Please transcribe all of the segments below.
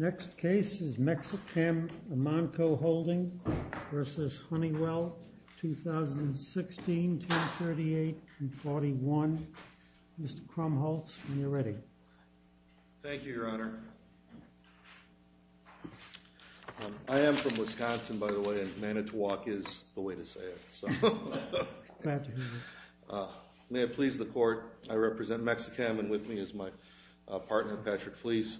2016-1038-41. Mr. Krumholz, when you're ready. Thank you, Your Honor. I am from Wisconsin, by the way, and Manitowoc is the way to say it. May it please the Court, I represent Mexichem and with me is my partner Patrick Fleece.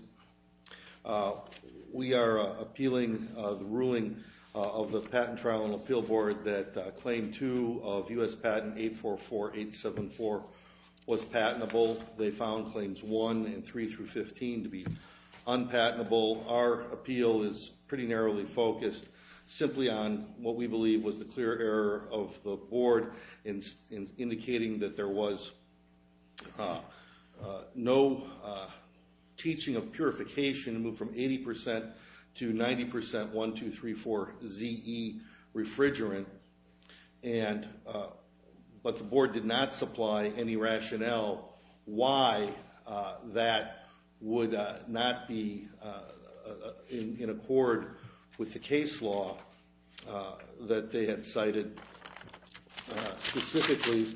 We are appealing the ruling of the Patent Trial and Appeal Board that Claim 2 of U.S. Patent 844874 was patentable. They found Claims 1 and 3 through 15 to be unpatentable. Our appeal is pretty narrowly focused simply on what we believe was the clear error of the Board in indicating that there was no teaching of purification to move from 80% to 90% 1, 2, 3, 4 ZE refrigerant, but the they had cited specifically.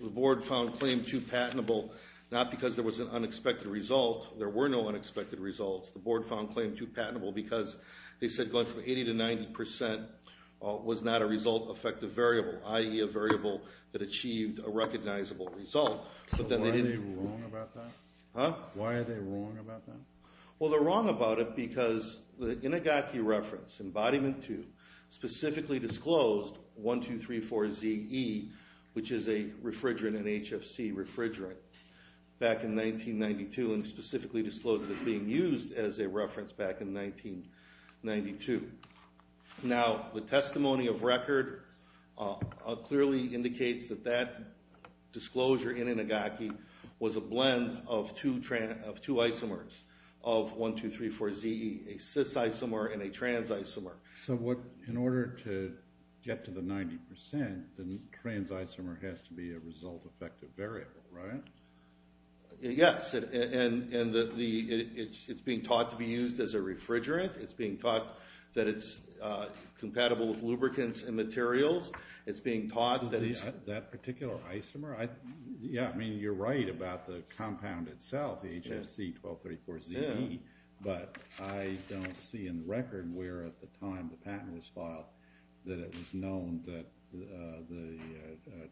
The Board found Claim 2 patentable not because there was an unexpected result. There were no unexpected results. The Board found Claim 2 patentable because they said going from 80% to 90% was not a result effective variable, i.e. a variable that achieved a recognizable result. Why are they wrong about that? Well, they're wrong about it because the Inigati reference, Embodiment 2, specifically disclosed 1, 2, 3, 4 ZE, which is a refrigerant, an HFC refrigerant, back in 1992 and specifically disclosed it as being used as a refrigerant. The testimony of record clearly indicates that that disclosure in Inigati was a blend of two isomers of 1, 2, 3, 4 ZE, a cis isomer and a trans isomer. So in order to get to the 90%, the trans isomer has to be a result effective variable, right? Yes, and it's being taught to be a result effective variable with lubricants and materials. It's being taught that it's... That particular isomer? Yeah, I mean, you're right about the compound itself, the HFC-1234-ZE, but I don't see in record where at the time the patent was filed that it was known that the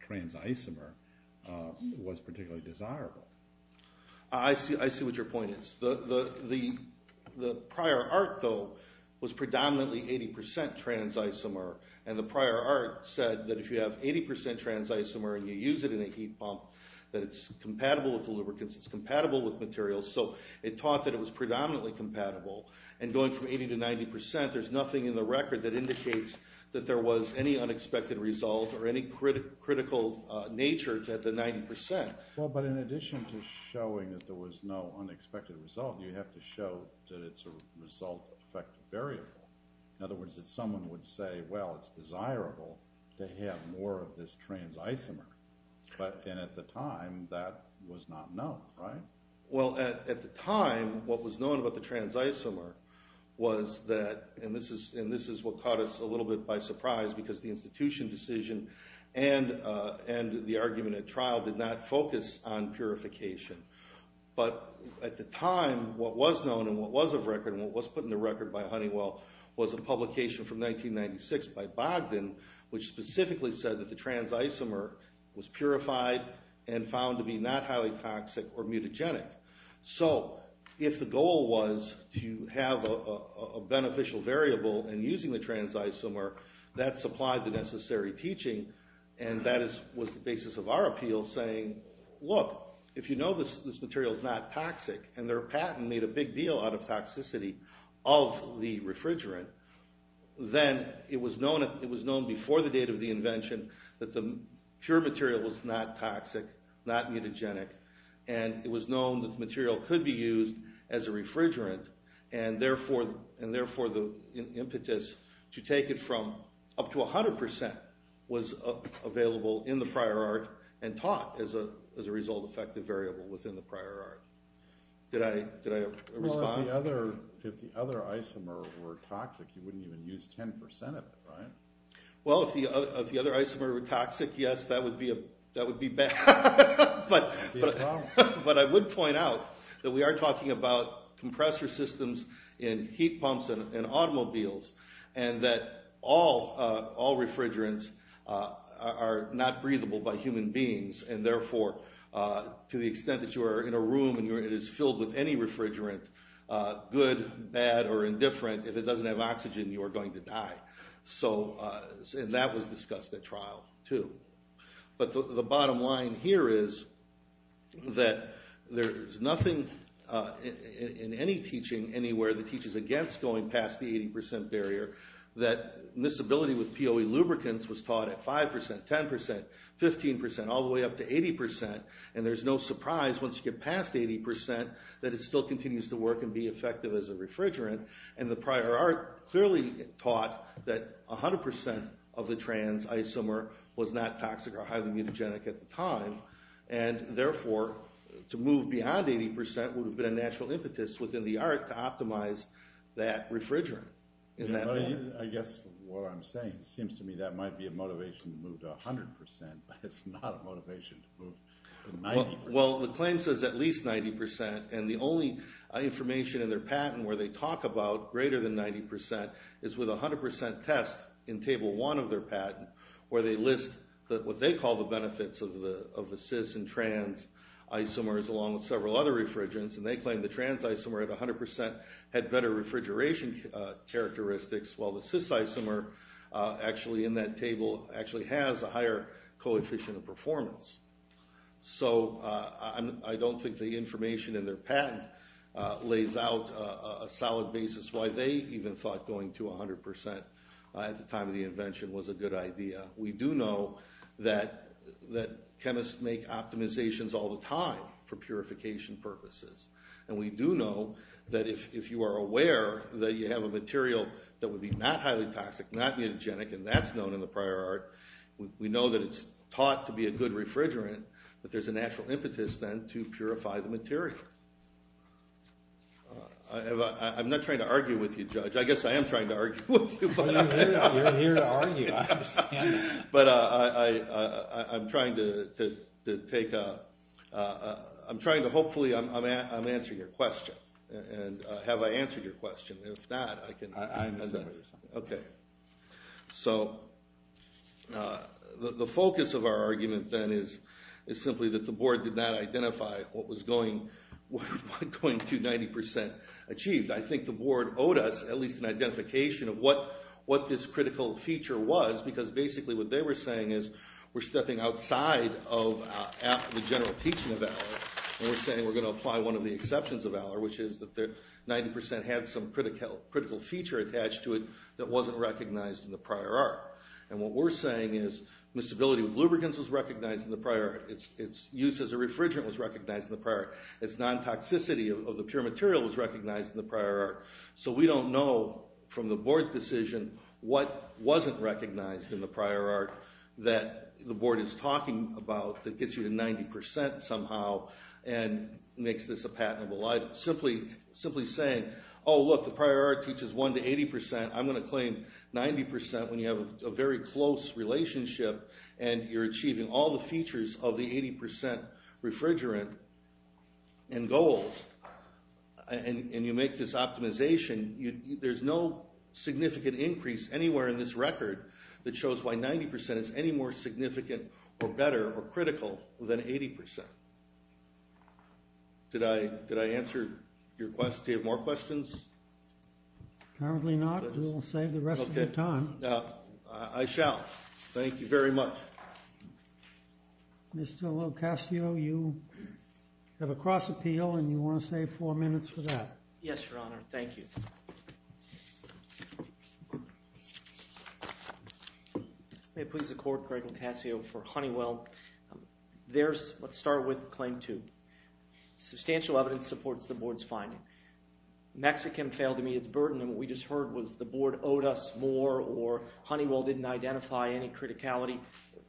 trans isomer was particularly desirable. I see what your point is. The prior art, though, was predominantly 80% trans isomer, and the prior art said that if you have 80% trans isomer and you use it in a heat pump, that it's compatible with the lubricants, it's compatible with materials, so it taught that it was predominantly compatible, and going from 80% to 90%, there's nothing in the record that indicates that there was any unexpected result or any critical nature at the 90%. Well, but in addition to showing that there was no unexpected result, you have to show that it's a result effective variable. In other words, that someone would say, well, it's desirable to have more of this trans isomer, but then at the time, that was not known, right? Well, at the time, what was known about the trans isomer was that, and this is what caught us a little bit by surprise because the institution decision and the argument at trial did not focus on purification, but at the time, what was known and what was of record and what was put in the record by Honeywell was a publication from 1996 by Bogdan which specifically said that the trans isomer was purified and found to be not highly toxic or mutagenic. So if the goal was to have a beneficial variable and using the trans isomer, that supplied the necessary teaching, and that was the basis of our appeal saying, look, if you know this material is not toxic and their patent made a big deal out of toxicity of the refrigerant, then it was known before the date of the invention that the pure material was not toxic, not mutagenic, and it was known that the material could be used as a refrigerant, and therefore the impetus to take it from up to 100% was available in the prior art and taught as a result-effective variable within the prior art. Did I respond? Well, if the other isomer were toxic, you wouldn't even use 10% of it, right? Well, if the other isomer were toxic, yes, that would be bad, but I would point out that we are talking about and that all refrigerants are not breathable by human beings, and therefore to the extent that you are in a room and it is filled with any refrigerant, good, bad, or indifferent, if it doesn't have oxygen, you are going to die. And that was discussed at trial, too. But the bottom line here is that there's nothing in any teaching anywhere that teaches against going past the 80% barrier, that this ability with POE lubricants was taught at 5%, 10%, 15%, all the way up to 80%, and there's no surprise once you get past 80% that it still continues to work and be effective as a refrigerant, and the prior art clearly taught that 100% of the trans isomer was not toxic or highly mutagenic at the time, and therefore to move beyond 80% would have been a natural impetus within the art to optimize that refrigerant. I guess what I'm saying seems to me that might be a motivation to move to 100%, but it's not a motivation to move to 90%. Well, the claim says at least 90%, and the only information in their patent where they talk about greater than 90% is with 100% test in Table 1 of their patent where they list what they call the benefits of the cis and trans isomers along with several other refrigerants, and they claim the trans isomer at 100% had better refrigeration characteristics while the cis isomer actually in that table actually has a higher coefficient of performance. So I don't think the information in their patent lays out a solid basis why they even thought going to 100% at the time of the invention was a good idea. We do know that chemists make optimizations all the time for purification purposes, and we do know that if you are aware that you have a material that would be not highly toxic, not mutagenic, and that's known in the prior art, we know that it's taught to be a good refrigerant, but there's a natural impetus then to purify the material. I'm not trying to argue with you, Judge. I guess I am trying to argue with you. You're here to argue, I understand. But I'm trying to hopefully answer your question, and have I answered your question? If not, I can... Okay. So the focus of our argument then is simply that the board did not identify what was going to 90% achieved. I think the board owed us at least an identification of what this critical feature was, because basically what they were saying is we're stepping outside of the general teaching of valor, and we're saying we're going to apply one of the exceptions of valor, which is that 90% had some critical feature attached to it that wasn't recognized in the prior art. And what we're saying is miscibility with lubricants was recognized in the prior art. Its use as a refrigerant was recognized in the prior art. Its non-toxicity of the pure material was recognized in the prior art. So we don't know from the board's decision what wasn't recognized in the prior art that the board is talking about that gets you to 90% somehow and makes this a patentable item. Simply saying, oh look, the prior art teaches 1 to 80%. I'm going to claim 90% when you have a very close relationship and you're achieving all the features of the 80% refrigerant and goals. And you make this optimization. There's no significant increase anywhere in this record that shows why 90% is any more significant or better or critical than 80%. Did I answer your question? Do you have more questions? Apparently not. We'll save the rest of your time. I shall. Thank you very much. Mr. Locascio, you have a cross appeal, and you want to save four minutes for that. Yes, Your Honor. Thank you. May it please the court, Craig Locascio for Honeywell. Let's start with claim two. Substantial evidence supports the board's finding. Mexichem failed to meet its burden, and what we just heard was the board owed us more or Honeywell didn't identify any criticality.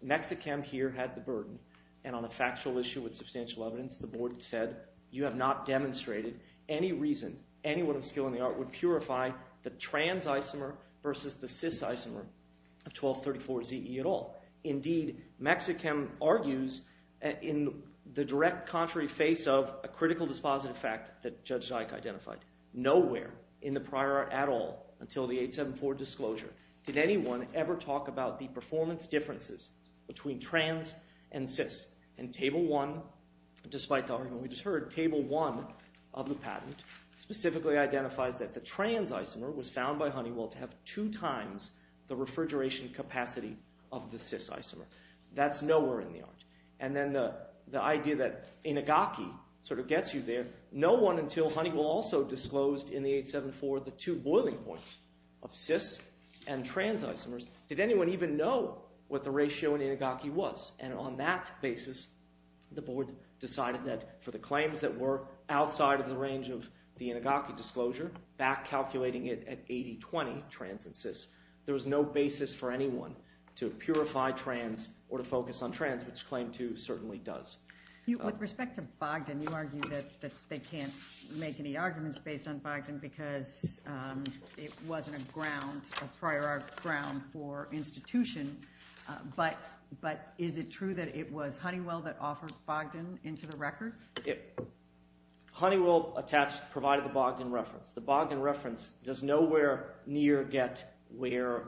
Mexichem here had the burden, and on a factual issue with substantial evidence, the board said, you have not demonstrated any reason anyone of skill in the art would purify the trans isomer versus the cis isomer of 1234-ZE at all. Indeed, Mexichem argues in the direct contrary face of a critical dispositive fact that Judge Dyke identified. Nowhere in the prior at all until the 874 disclosure did anyone ever talk about the performance differences between trans and cis. And table one, despite the argument we just heard, table one of the patent specifically identifies that the trans isomer was found by Honeywell to have two times the refrigeration capacity of the cis isomer. That's nowhere in the art. And then the idea that Inagaki sort of gets you there, no one until Honeywell also disclosed in the 874 the two boiling points of cis and trans isomers. Did anyone even know what the ratio in Inagaki was? And on that basis, the board decided that for the claims that were outside of the range of the Inagaki disclosure, back calculating it at 80-20 trans and cis, there was no basis for anyone to purify trans or to focus on trans, which claim two certainly does. With respect to Bogdan, you argue that they can't make any arguments based on Bogdan because it wasn't a ground, a prior art ground for institution. But is it true that it was Honeywell that offered Bogdan into the record? Honeywell attached provided the Bogdan reference. The Bogdan reference does nowhere near get where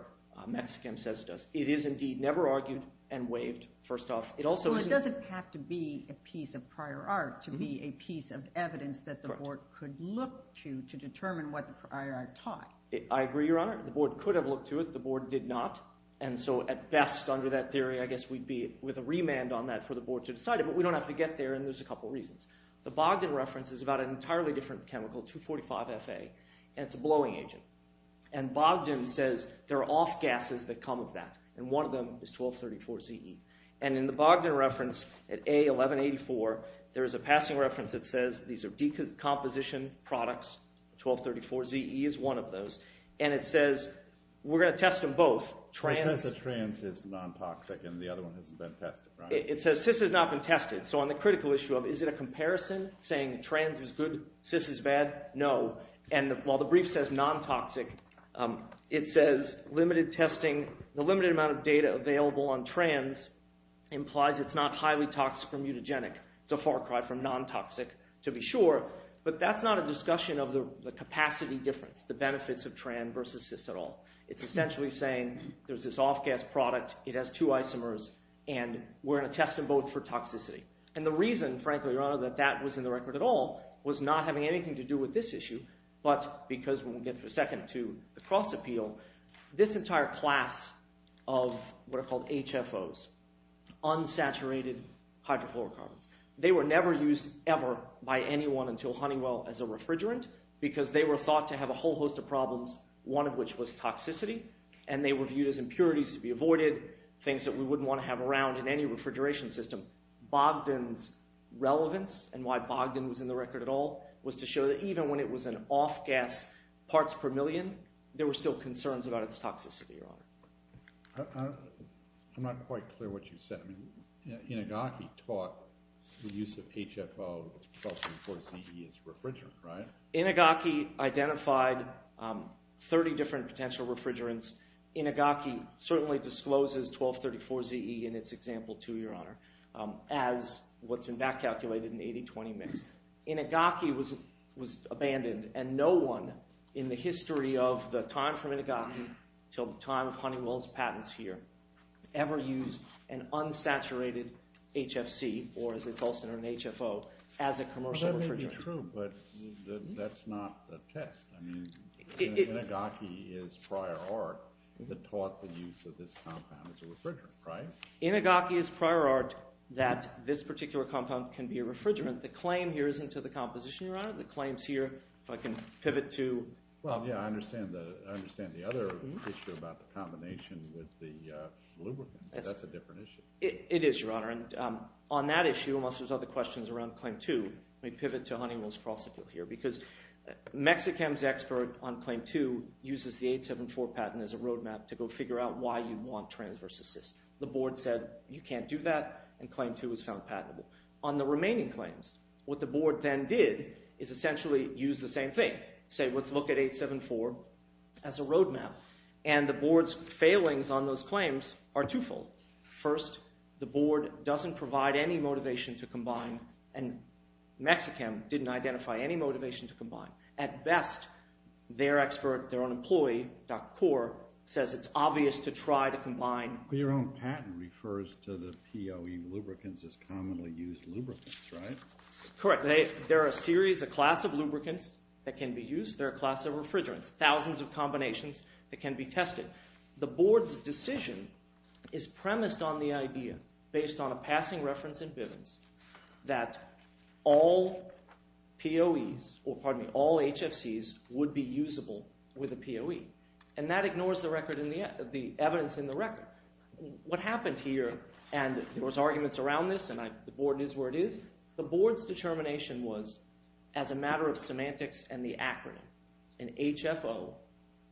Mexikam says it does. It is indeed never argued and waived, first off. Well, it doesn't have to be a piece of prior art to be a piece of evidence that the board could look to to determine what the prior art taught. I agree, Your Honor. The board could have looked to it. The board did not, and so at best under that theory, I guess we'd be with a remand on that for the board to decide it. But we don't have to get there, and there's a couple reasons. The Bogdan reference is about an entirely different chemical, 245FA, and it's a blowing agent. And Bogdan says there are off gases that come with that, and one of them is 1234ZE. And in the Bogdan reference at A1184, there is a passing reference that says these are decomposition products. 1234ZE is one of those. And it says we're going to test them both. It says the trans is non-toxic and the other one hasn't been tested, right? It says cis has not been tested. So on the critical issue of is it a comparison saying trans is good, cis is bad, no. And while the brief says non-toxic, it says limited testing, the limited amount of data available on trans implies it's not highly toxic or mutagenic. It's a far cry from non-toxic to be sure. But that's not a discussion of the capacity difference, the benefits of trans versus cis at all. It's essentially saying there's this off gas product. It has two isomers, and we're going to test them both for toxicity. And the reason, frankly, your honor, that that was in the record at all was not having anything to do with this issue but because we'll get to a second to the cross appeal. This entire class of what are called HFOs, unsaturated hydrofluorocarbons. They were never used ever by anyone until Honeywell as a refrigerant because they were thought to have a whole host of problems, one of which was toxicity. And they were viewed as impurities to be avoided, things that we wouldn't want to have around in any refrigeration system. Bogdan's relevance and why Bogdan was in the record at all was to show that even when it was an off gas parts per million, there were still concerns about its toxicity, your honor. I'm not quite clear what you said. Inagaki taught the use of HFO 1234ZE as a refrigerant, right? Inagaki identified 30 different potential refrigerants. Inagaki certainly discloses 1234ZE in its example too, your honor, as what's been back calculated in the 80-20 mix. Inagaki was abandoned and no one in the history of the time from Inagaki until the time of Honeywell's patents here ever used an unsaturated HFC or as it's also known HFO as a commercial refrigerant. That may be true but that's not the test. I mean Inagaki is prior art that taught the use of this compound as a refrigerant, right? Inagaki is prior art that this particular compound can be a refrigerant. The claim here isn't to the composition, your honor. The claims here, if I can pivot to – Well, yeah, I understand the other issue about the combination with the lubricant. That's a different issue. It is, your honor. And on that issue, unless there's other questions around claim two, let me pivot to Honeywell's cross appeal here because Mexichem's expert on claim two uses the 874 patent as a roadmap to go figure out why you want transverse assist. The board said you can't do that and claim two was found patentable. On the remaining claims, what the board then did is essentially use the same thing, say let's look at 874 as a roadmap. And the board's failings on those claims are twofold. First, the board doesn't provide any motivation to combine and Mexichem didn't identify any motivation to combine. At best, their expert, their own employee, Dr. Kaur, says it's obvious to try to combine. Your own patent refers to the POE lubricants as commonly used lubricants, right? Correct. They're a series, a class of lubricants that can be used. They're a class of refrigerants, thousands of combinations that can be tested. The board's decision is premised on the idea based on a passing reference in Bivens that all POEs – or pardon me, all HFCs would be usable with a POE. And that ignores the record – the evidence in the record. What happened here – and there was arguments around this and the board is where it is. The board's determination was as a matter of semantics and the acronym. An HFO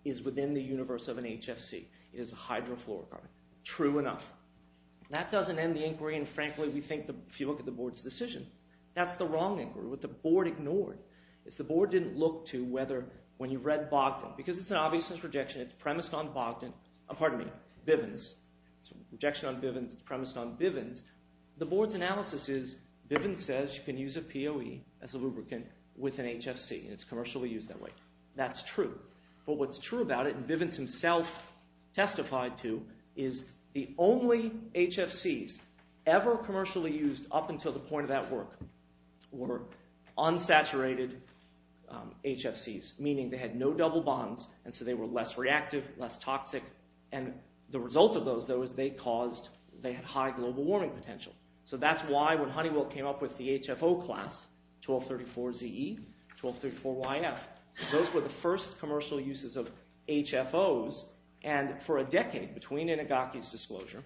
is within the universe of an HFC. It is a hydrofluorocarbon. True enough. That doesn't end the inquiry. And frankly, we think if you look at the board's decision, that's the wrong inquiry. What the board ignored is the board didn't look to whether when you read Bogdan – because it's an obviousness rejection. It's premised on Bogdan – pardon me, Bivens. It's a rejection on Bivens. It's premised on Bivens. The board's analysis is Bivens says you can use a POE as a lubricant with an HFC, and it's commercially used that way. That's true. But what's true about it, and Bivens himself testified to, is the only HFCs ever commercially used up until the point of that work were unsaturated HFCs. Meaning they had no double bonds, and so they were less reactive, less toxic. And the result of those, though, is they caused – they had high global warming potential. So that's why when Honeywell came up with the HFO class, 1234ZE, 1234YF, those were the first commercial uses of HFOs. And for a decade between Inagaki's disclosure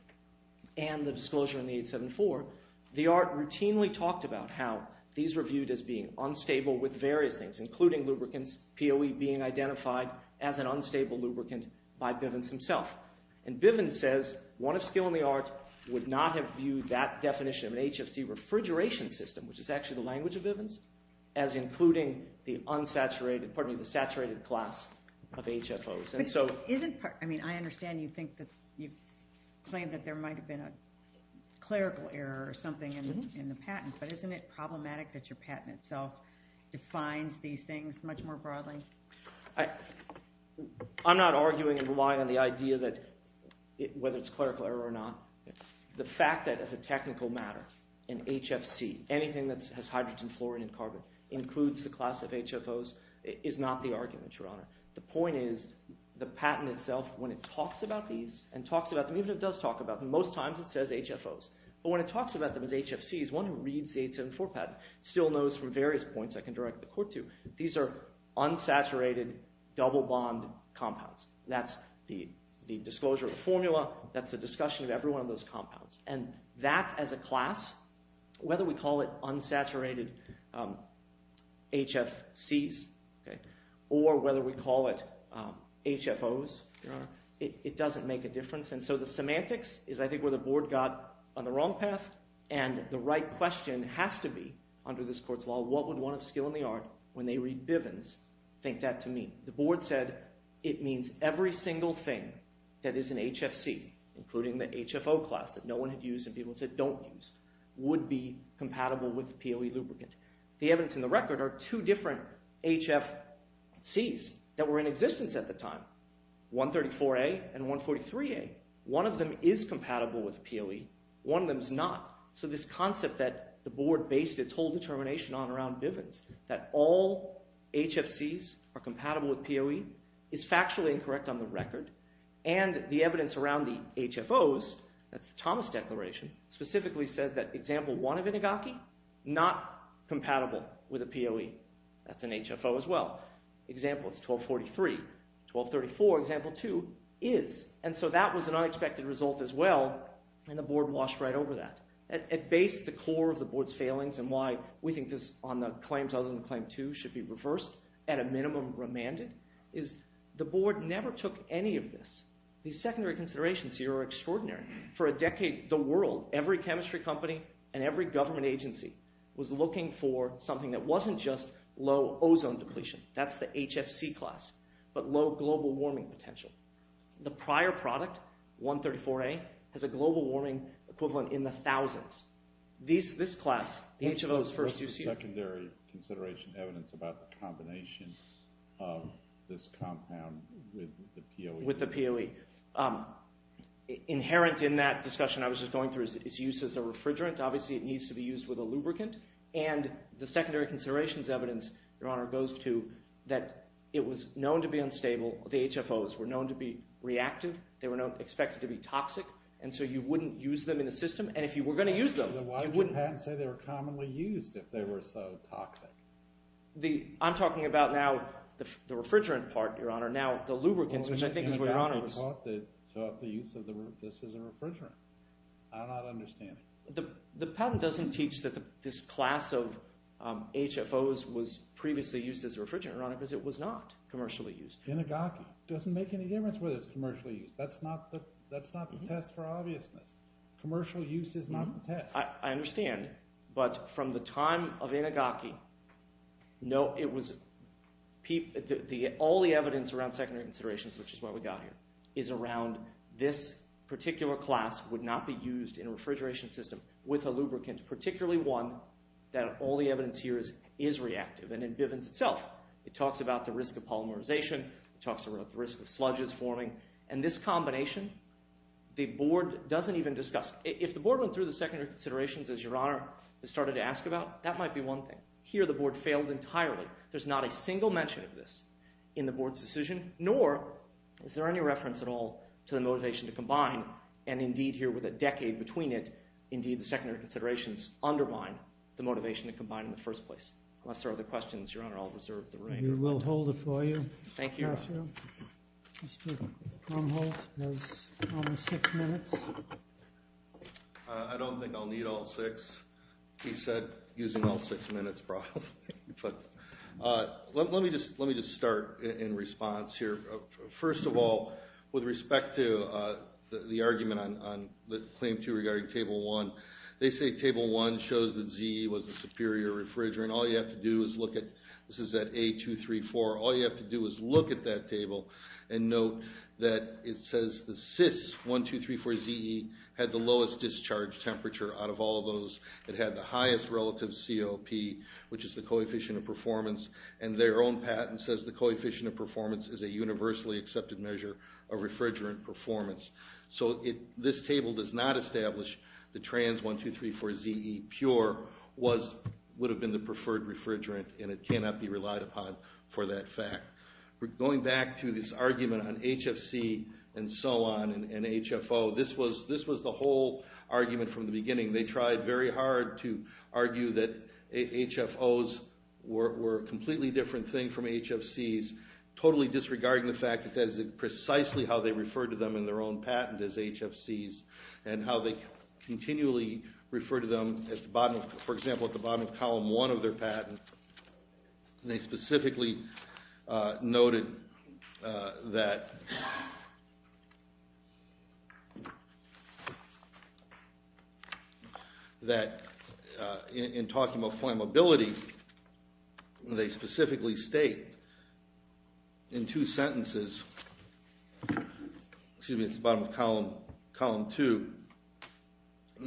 and the disclosure in the 874, the art routinely talked about how these were viewed as being unstable with various things, including lubricants. POE being identified as an unstable lubricant by Bivens himself. And Bivens says one of skill in the art would not have viewed that definition of an HFC refrigeration system, which is actually the language of Bivens, as including the unsaturated – pardon me, the saturated class of HFOs. But isn't – I mean I understand you think that – you claim that there might have been a clerical error or something in the patent. But isn't it problematic that your patent itself defines these things much more broadly? I'm not arguing and relying on the idea that – whether it's a clerical error or not. The fact that as a technical matter, an HFC, anything that has hydrogen, fluorine, and carbon, includes the class of HFOs is not the argument, Your Honor. The point is the patent itself, when it talks about these and talks about them – even if it does talk about them, most times it says HFOs. But when it talks about them as HFCs, one who reads the 874 patent still knows from various points I can direct the court to these are unsaturated, double-bond compounds. That's the disclosure of the formula. That's the discussion of every one of those compounds. And that as a class, whether we call it unsaturated HFCs or whether we call it HFOs, it doesn't make a difference. And so the semantics is I think where the board got on the wrong path, and the right question has to be under this court's law. What would one of skill and the art, when they read Bivens, think that to mean? The board said it means every single thing that is an HFC, including the HFO class that no one had used and people said don't use, would be compatible with PLE lubricant. The evidence in the record are two different HFCs that were in existence at the time, 134A and 143A. One of them is compatible with PLE. One of them is not. So this concept that the board based its whole determination on around Bivens, that all HFCs are compatible with PLE, is factually incorrect on the record. And the evidence around the HFOs, that's the Thomas Declaration, specifically says that example one of inigaki, not compatible with a PLE. That's an HFO as well. Example is 1243. 1234, example two, is. And so that was an unexpected result as well, and the board washed right over that. At base, the core of the board's failings and why we think this, on the claims other than claim two, should be reversed, at a minimum remanded, is the board never took any of this. These secondary considerations here are extraordinary. For a decade, the world, every chemistry company and every government agency, was looking for something that wasn't just low ozone depletion. That's the HFC class, but low global warming potential. The prior product, 134A, has a global warming equivalent in the thousands. This class, the HFOs first used here. What's the secondary consideration evidence about the combination of this compound with the PLE? With the PLE. Inherent in that discussion I was just going through is its use as a refrigerant. Obviously it needs to be used with a lubricant. And the secondary considerations evidence, Your Honor, goes to that it was known to be unstable. The HFOs were known to be reactive. They were expected to be toxic, and so you wouldn't use them in the system. And if you were going to use them, you wouldn't. Why did your patent say they were commonly used if they were so toxic? I'm talking about now the refrigerant part, Your Honor. Now the lubricants, which I think is where Your Honor was… The patent taught that this is a refrigerant. I don't understand it. The patent doesn't teach that this class of HFOs was previously used as a refrigerant, Your Honor, because it was not commercially used. Inagaki doesn't make any difference whether it's commercially used. That's not the test for obviousness. Commercial use is not the test. I understand, but from the time of Inagaki, all the evidence around secondary considerations, which is why we got here, is around this particular class would not be used in a refrigeration system with a lubricant, particularly one that all the evidence here is reactive, and in Bivens itself. It talks about the risk of polymerization. It talks about the risk of sludges forming, and this combination the board doesn't even discuss. If the board went through the secondary considerations, as Your Honor has started to ask about, that might be one thing. Here the board failed entirely. There's not a single mention of this in the board's decision, nor is there any reference at all to the motivation to combine, and indeed here with a decade between it, indeed the secondary considerations undermine the motivation to combine in the first place. Unless there are other questions, Your Honor, I'll reserve the room. We will hold it for you. Thank you. Mr. Krumholz has almost six minutes. I don't think I'll need all six. He said using all six minutes probably. Let me just start in response here. First of all, with respect to the argument on Claim 2 regarding Table 1, they say Table 1 shows that ZE was the superior refrigerant. All you have to do is look at, this is at A234, all you have to do is look at that table and note that it says the CIS 1, 2, 3, 4 ZE had the lowest discharge temperature out of all those. It had the highest relative COP, which is the coefficient of performance, and their own patent says the coefficient of performance is a universally accepted measure of refrigerant performance. So this table does not establish the trans 1, 2, 3, 4 ZE pure would have been the preferred refrigerant, and it cannot be relied upon for that fact. Going back to this argument on HFC and so on and HFO, this was the whole argument from the beginning. They tried very hard to argue that HFOs were a completely different thing from HFCs, totally disregarding the fact that that is precisely how they refer to them in their own patent as HFCs, and how they continually refer to them, for example, at the bottom of Column 1 of their patent. They specifically noted that in talking about flammability, they specifically state in two sentences, excuse me, it's the bottom of Column 2,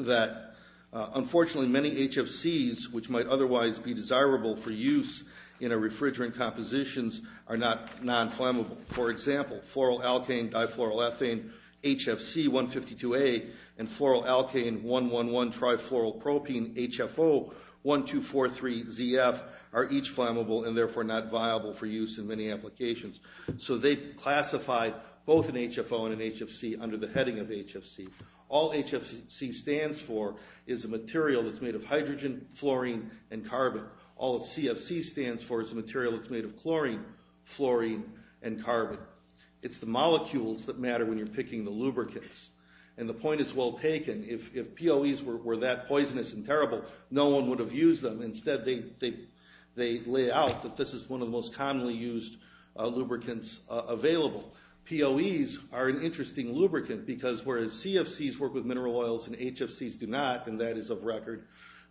that unfortunately many HFCs, which might otherwise be desirable for use in refrigerant compositions, are not non-flammable. For example, floral alkane, difloral ethane, HFC 152A, and floral alkane 111 trifloral propene HFO 1243 ZF are each flammable and therefore not viable for use in many applications. So they classified both an HFO and an HFC under the heading of HFC. All HFC stands for is a material that's made of hydrogen, fluorine, and carbon. All CFC stands for is a material that's made of chlorine, fluorine, and carbon. It's the molecules that matter when you're picking the lubricants, and the point is well taken. If POEs were that poisonous and terrible, no one would have used them. Instead they lay out that this is one of the most commonly used lubricants available. POEs are an interesting lubricant because whereas CFCs work with mineral oils and HFCs do not, and that is of record,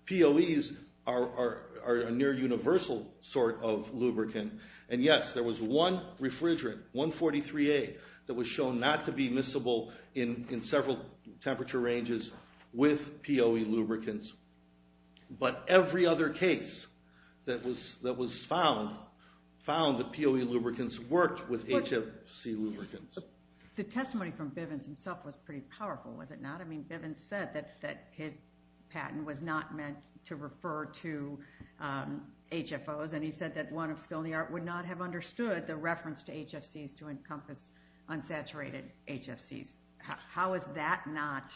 POEs are a near universal sort of lubricant. And yes, there was one refrigerant, 143A, that was shown not to be miscible in several temperature ranges with POE lubricants. But every other case that was found found that POE lubricants worked with HFC lubricants. The testimony from Bivens himself was pretty powerful, was it not? I mean, Bivens said that his patent was not meant to refer to HFOs, and he said that one of Skilny Art would not have understood the reference to HFCs to encompass unsaturated HFCs. How is that not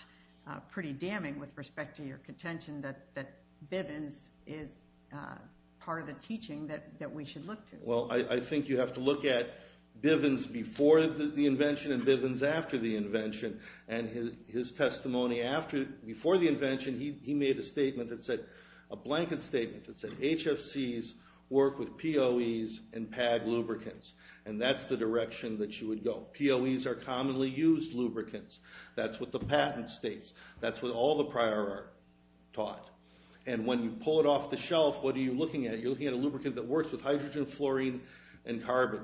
pretty damning with respect to your contention that Bivens is part of the teaching that we should look to? Well, I think you have to look at Bivens before the invention and Bivens after the invention. And his testimony before the invention, he made a statement that said, a blanket statement that said HFCs work with POEs and PAG lubricants, and that's the direction that you would go. POEs are commonly used lubricants. That's what the patent states. That's what all the prior art taught. And when you pull it off the shelf, what are you looking at? You're looking at a lubricant that works with hydrogen, fluorine, and carbon.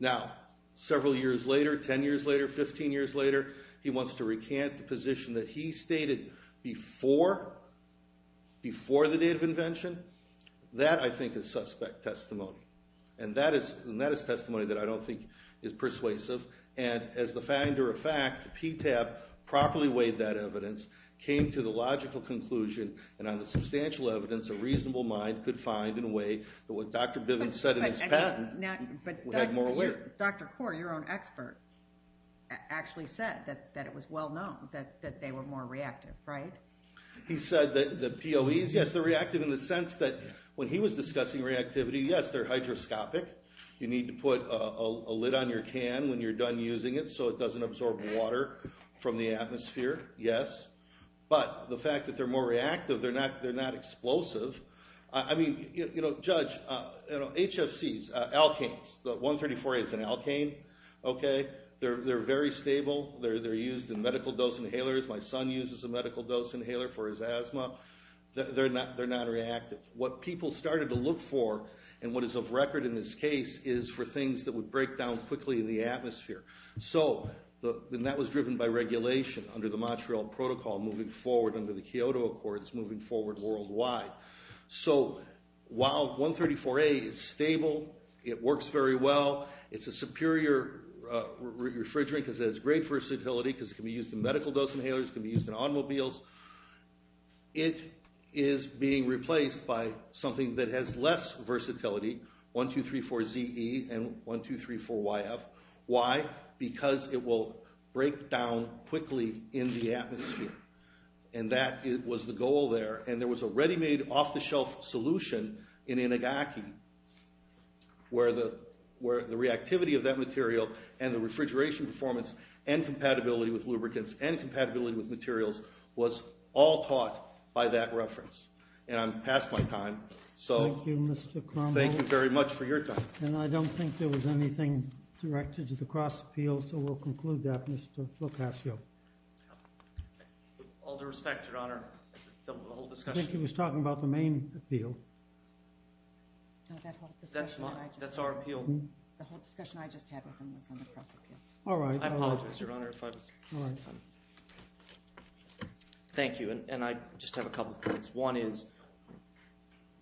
Now, several years later, 10 years later, 15 years later, he wants to recant the position that he stated before the date of invention. That, I think, is suspect testimony. And that is testimony that I don't think is persuasive. And as the finder of fact, PTAB properly weighed that evidence, came to the logical conclusion, and on the substantial evidence, a reasonable mind could find in a way that what Dr. Bivens said in his patent would have more awareness. But Dr. Kaur, your own expert, actually said that it was well known that they were more reactive, right? He said that the POEs, yes, they're reactive in the sense that when he was discussing reactivity, yes, they're hydroscopic. You need to put a lid on your can when you're done using it so it doesn't absorb water from the atmosphere, yes. But the fact that they're more reactive, they're not explosive. I mean, you know, Judge, HFCs, alkanes, 134A is an alkane, okay? They're very stable. They're used in medical dose inhalers. My son uses a medical dose inhaler for his asthma. They're not reactive. What people started to look for and what is of record in this case is for things that would break down quickly in the atmosphere. And that was driven by regulation under the Montreal Protocol moving forward under the Kyoto Accords moving forward worldwide. So while 134A is stable, it works very well, it's a superior refrigerant because it has great versatility because it can be used in medical dose inhalers, it can be used in automobiles. It is being replaced by something that has less versatility, 1,2,3,4-ZE and 1,2,3,4-YF. Why? Because it will break down quickly in the atmosphere. And that was the goal there. And there was a ready-made off-the-shelf solution in Inagaki where the reactivity of that material and the refrigeration performance and compatibility with lubricants and compatibility with materials was all taught by that reference. And I'm past my time. Thank you, Mr. Cromwell. Thank you very much for your time. And I don't think there was anything directed to the cross-appeal, so we'll conclude that, Mr. Locascio. All due respect, Your Honor, the whole discussion... I think he was talking about the main appeal. That's our appeal. The whole discussion I just had with him was on the cross-appeal. All right. I apologize, Your Honor, if I was... Thank you. And I just have a couple of points. One is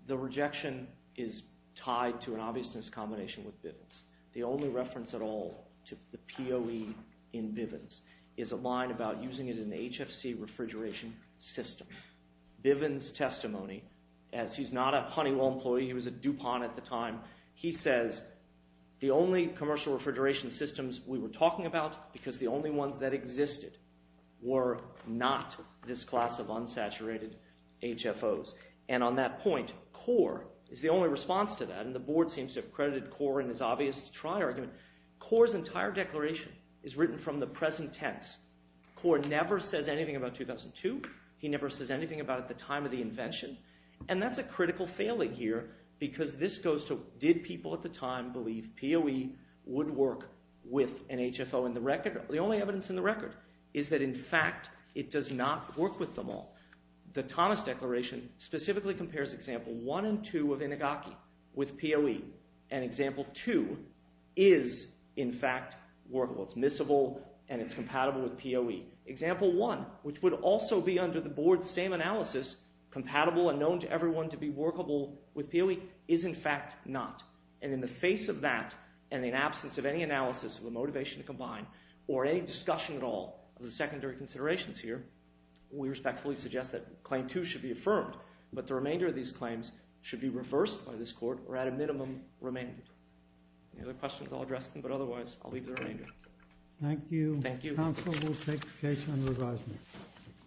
the rejection is tied to an obviousness combination with Bivens. The only reference at all to the POE in Bivens is a line about using it in the HFC refrigeration system. Bivens' testimony, as he's not a Honeywell employee, he was at DuPont at the time, he says the only commercial refrigeration systems we were talking about, because the only ones that existed, were not this class of unsaturated HFOs. And on that point, Korr is the only response to that, and the board seems to have credited Korr in his obvious to try argument. Korr's entire declaration is written from the present tense. Korr never says anything about 2002. He never says anything about the time of the invention. And that's a critical failing here because this goes to did people at the time believe POE would work with an HFO in the record? The only evidence in the record is that, in fact, it does not work with them all. The Thomas Declaration specifically compares example 1 and 2 of Inigaki with POE. And example 2 is, in fact, workable. It's missable, and it's compatible with POE. Example 1, which would also be under the board's same analysis, compatible and known to everyone to be workable with POE, is, in fact, not. And in the face of that, and in absence of any analysis of the motivation to combine, or any discussion at all of the secondary considerations here, we respectfully suggest that claim 2 should be affirmed, but the remainder of these claims should be reversed by this court or at a minimum remained. Any other questions? I'll address them, but otherwise I'll leave the remainder. Thank you. Counsel will take the case under advisement.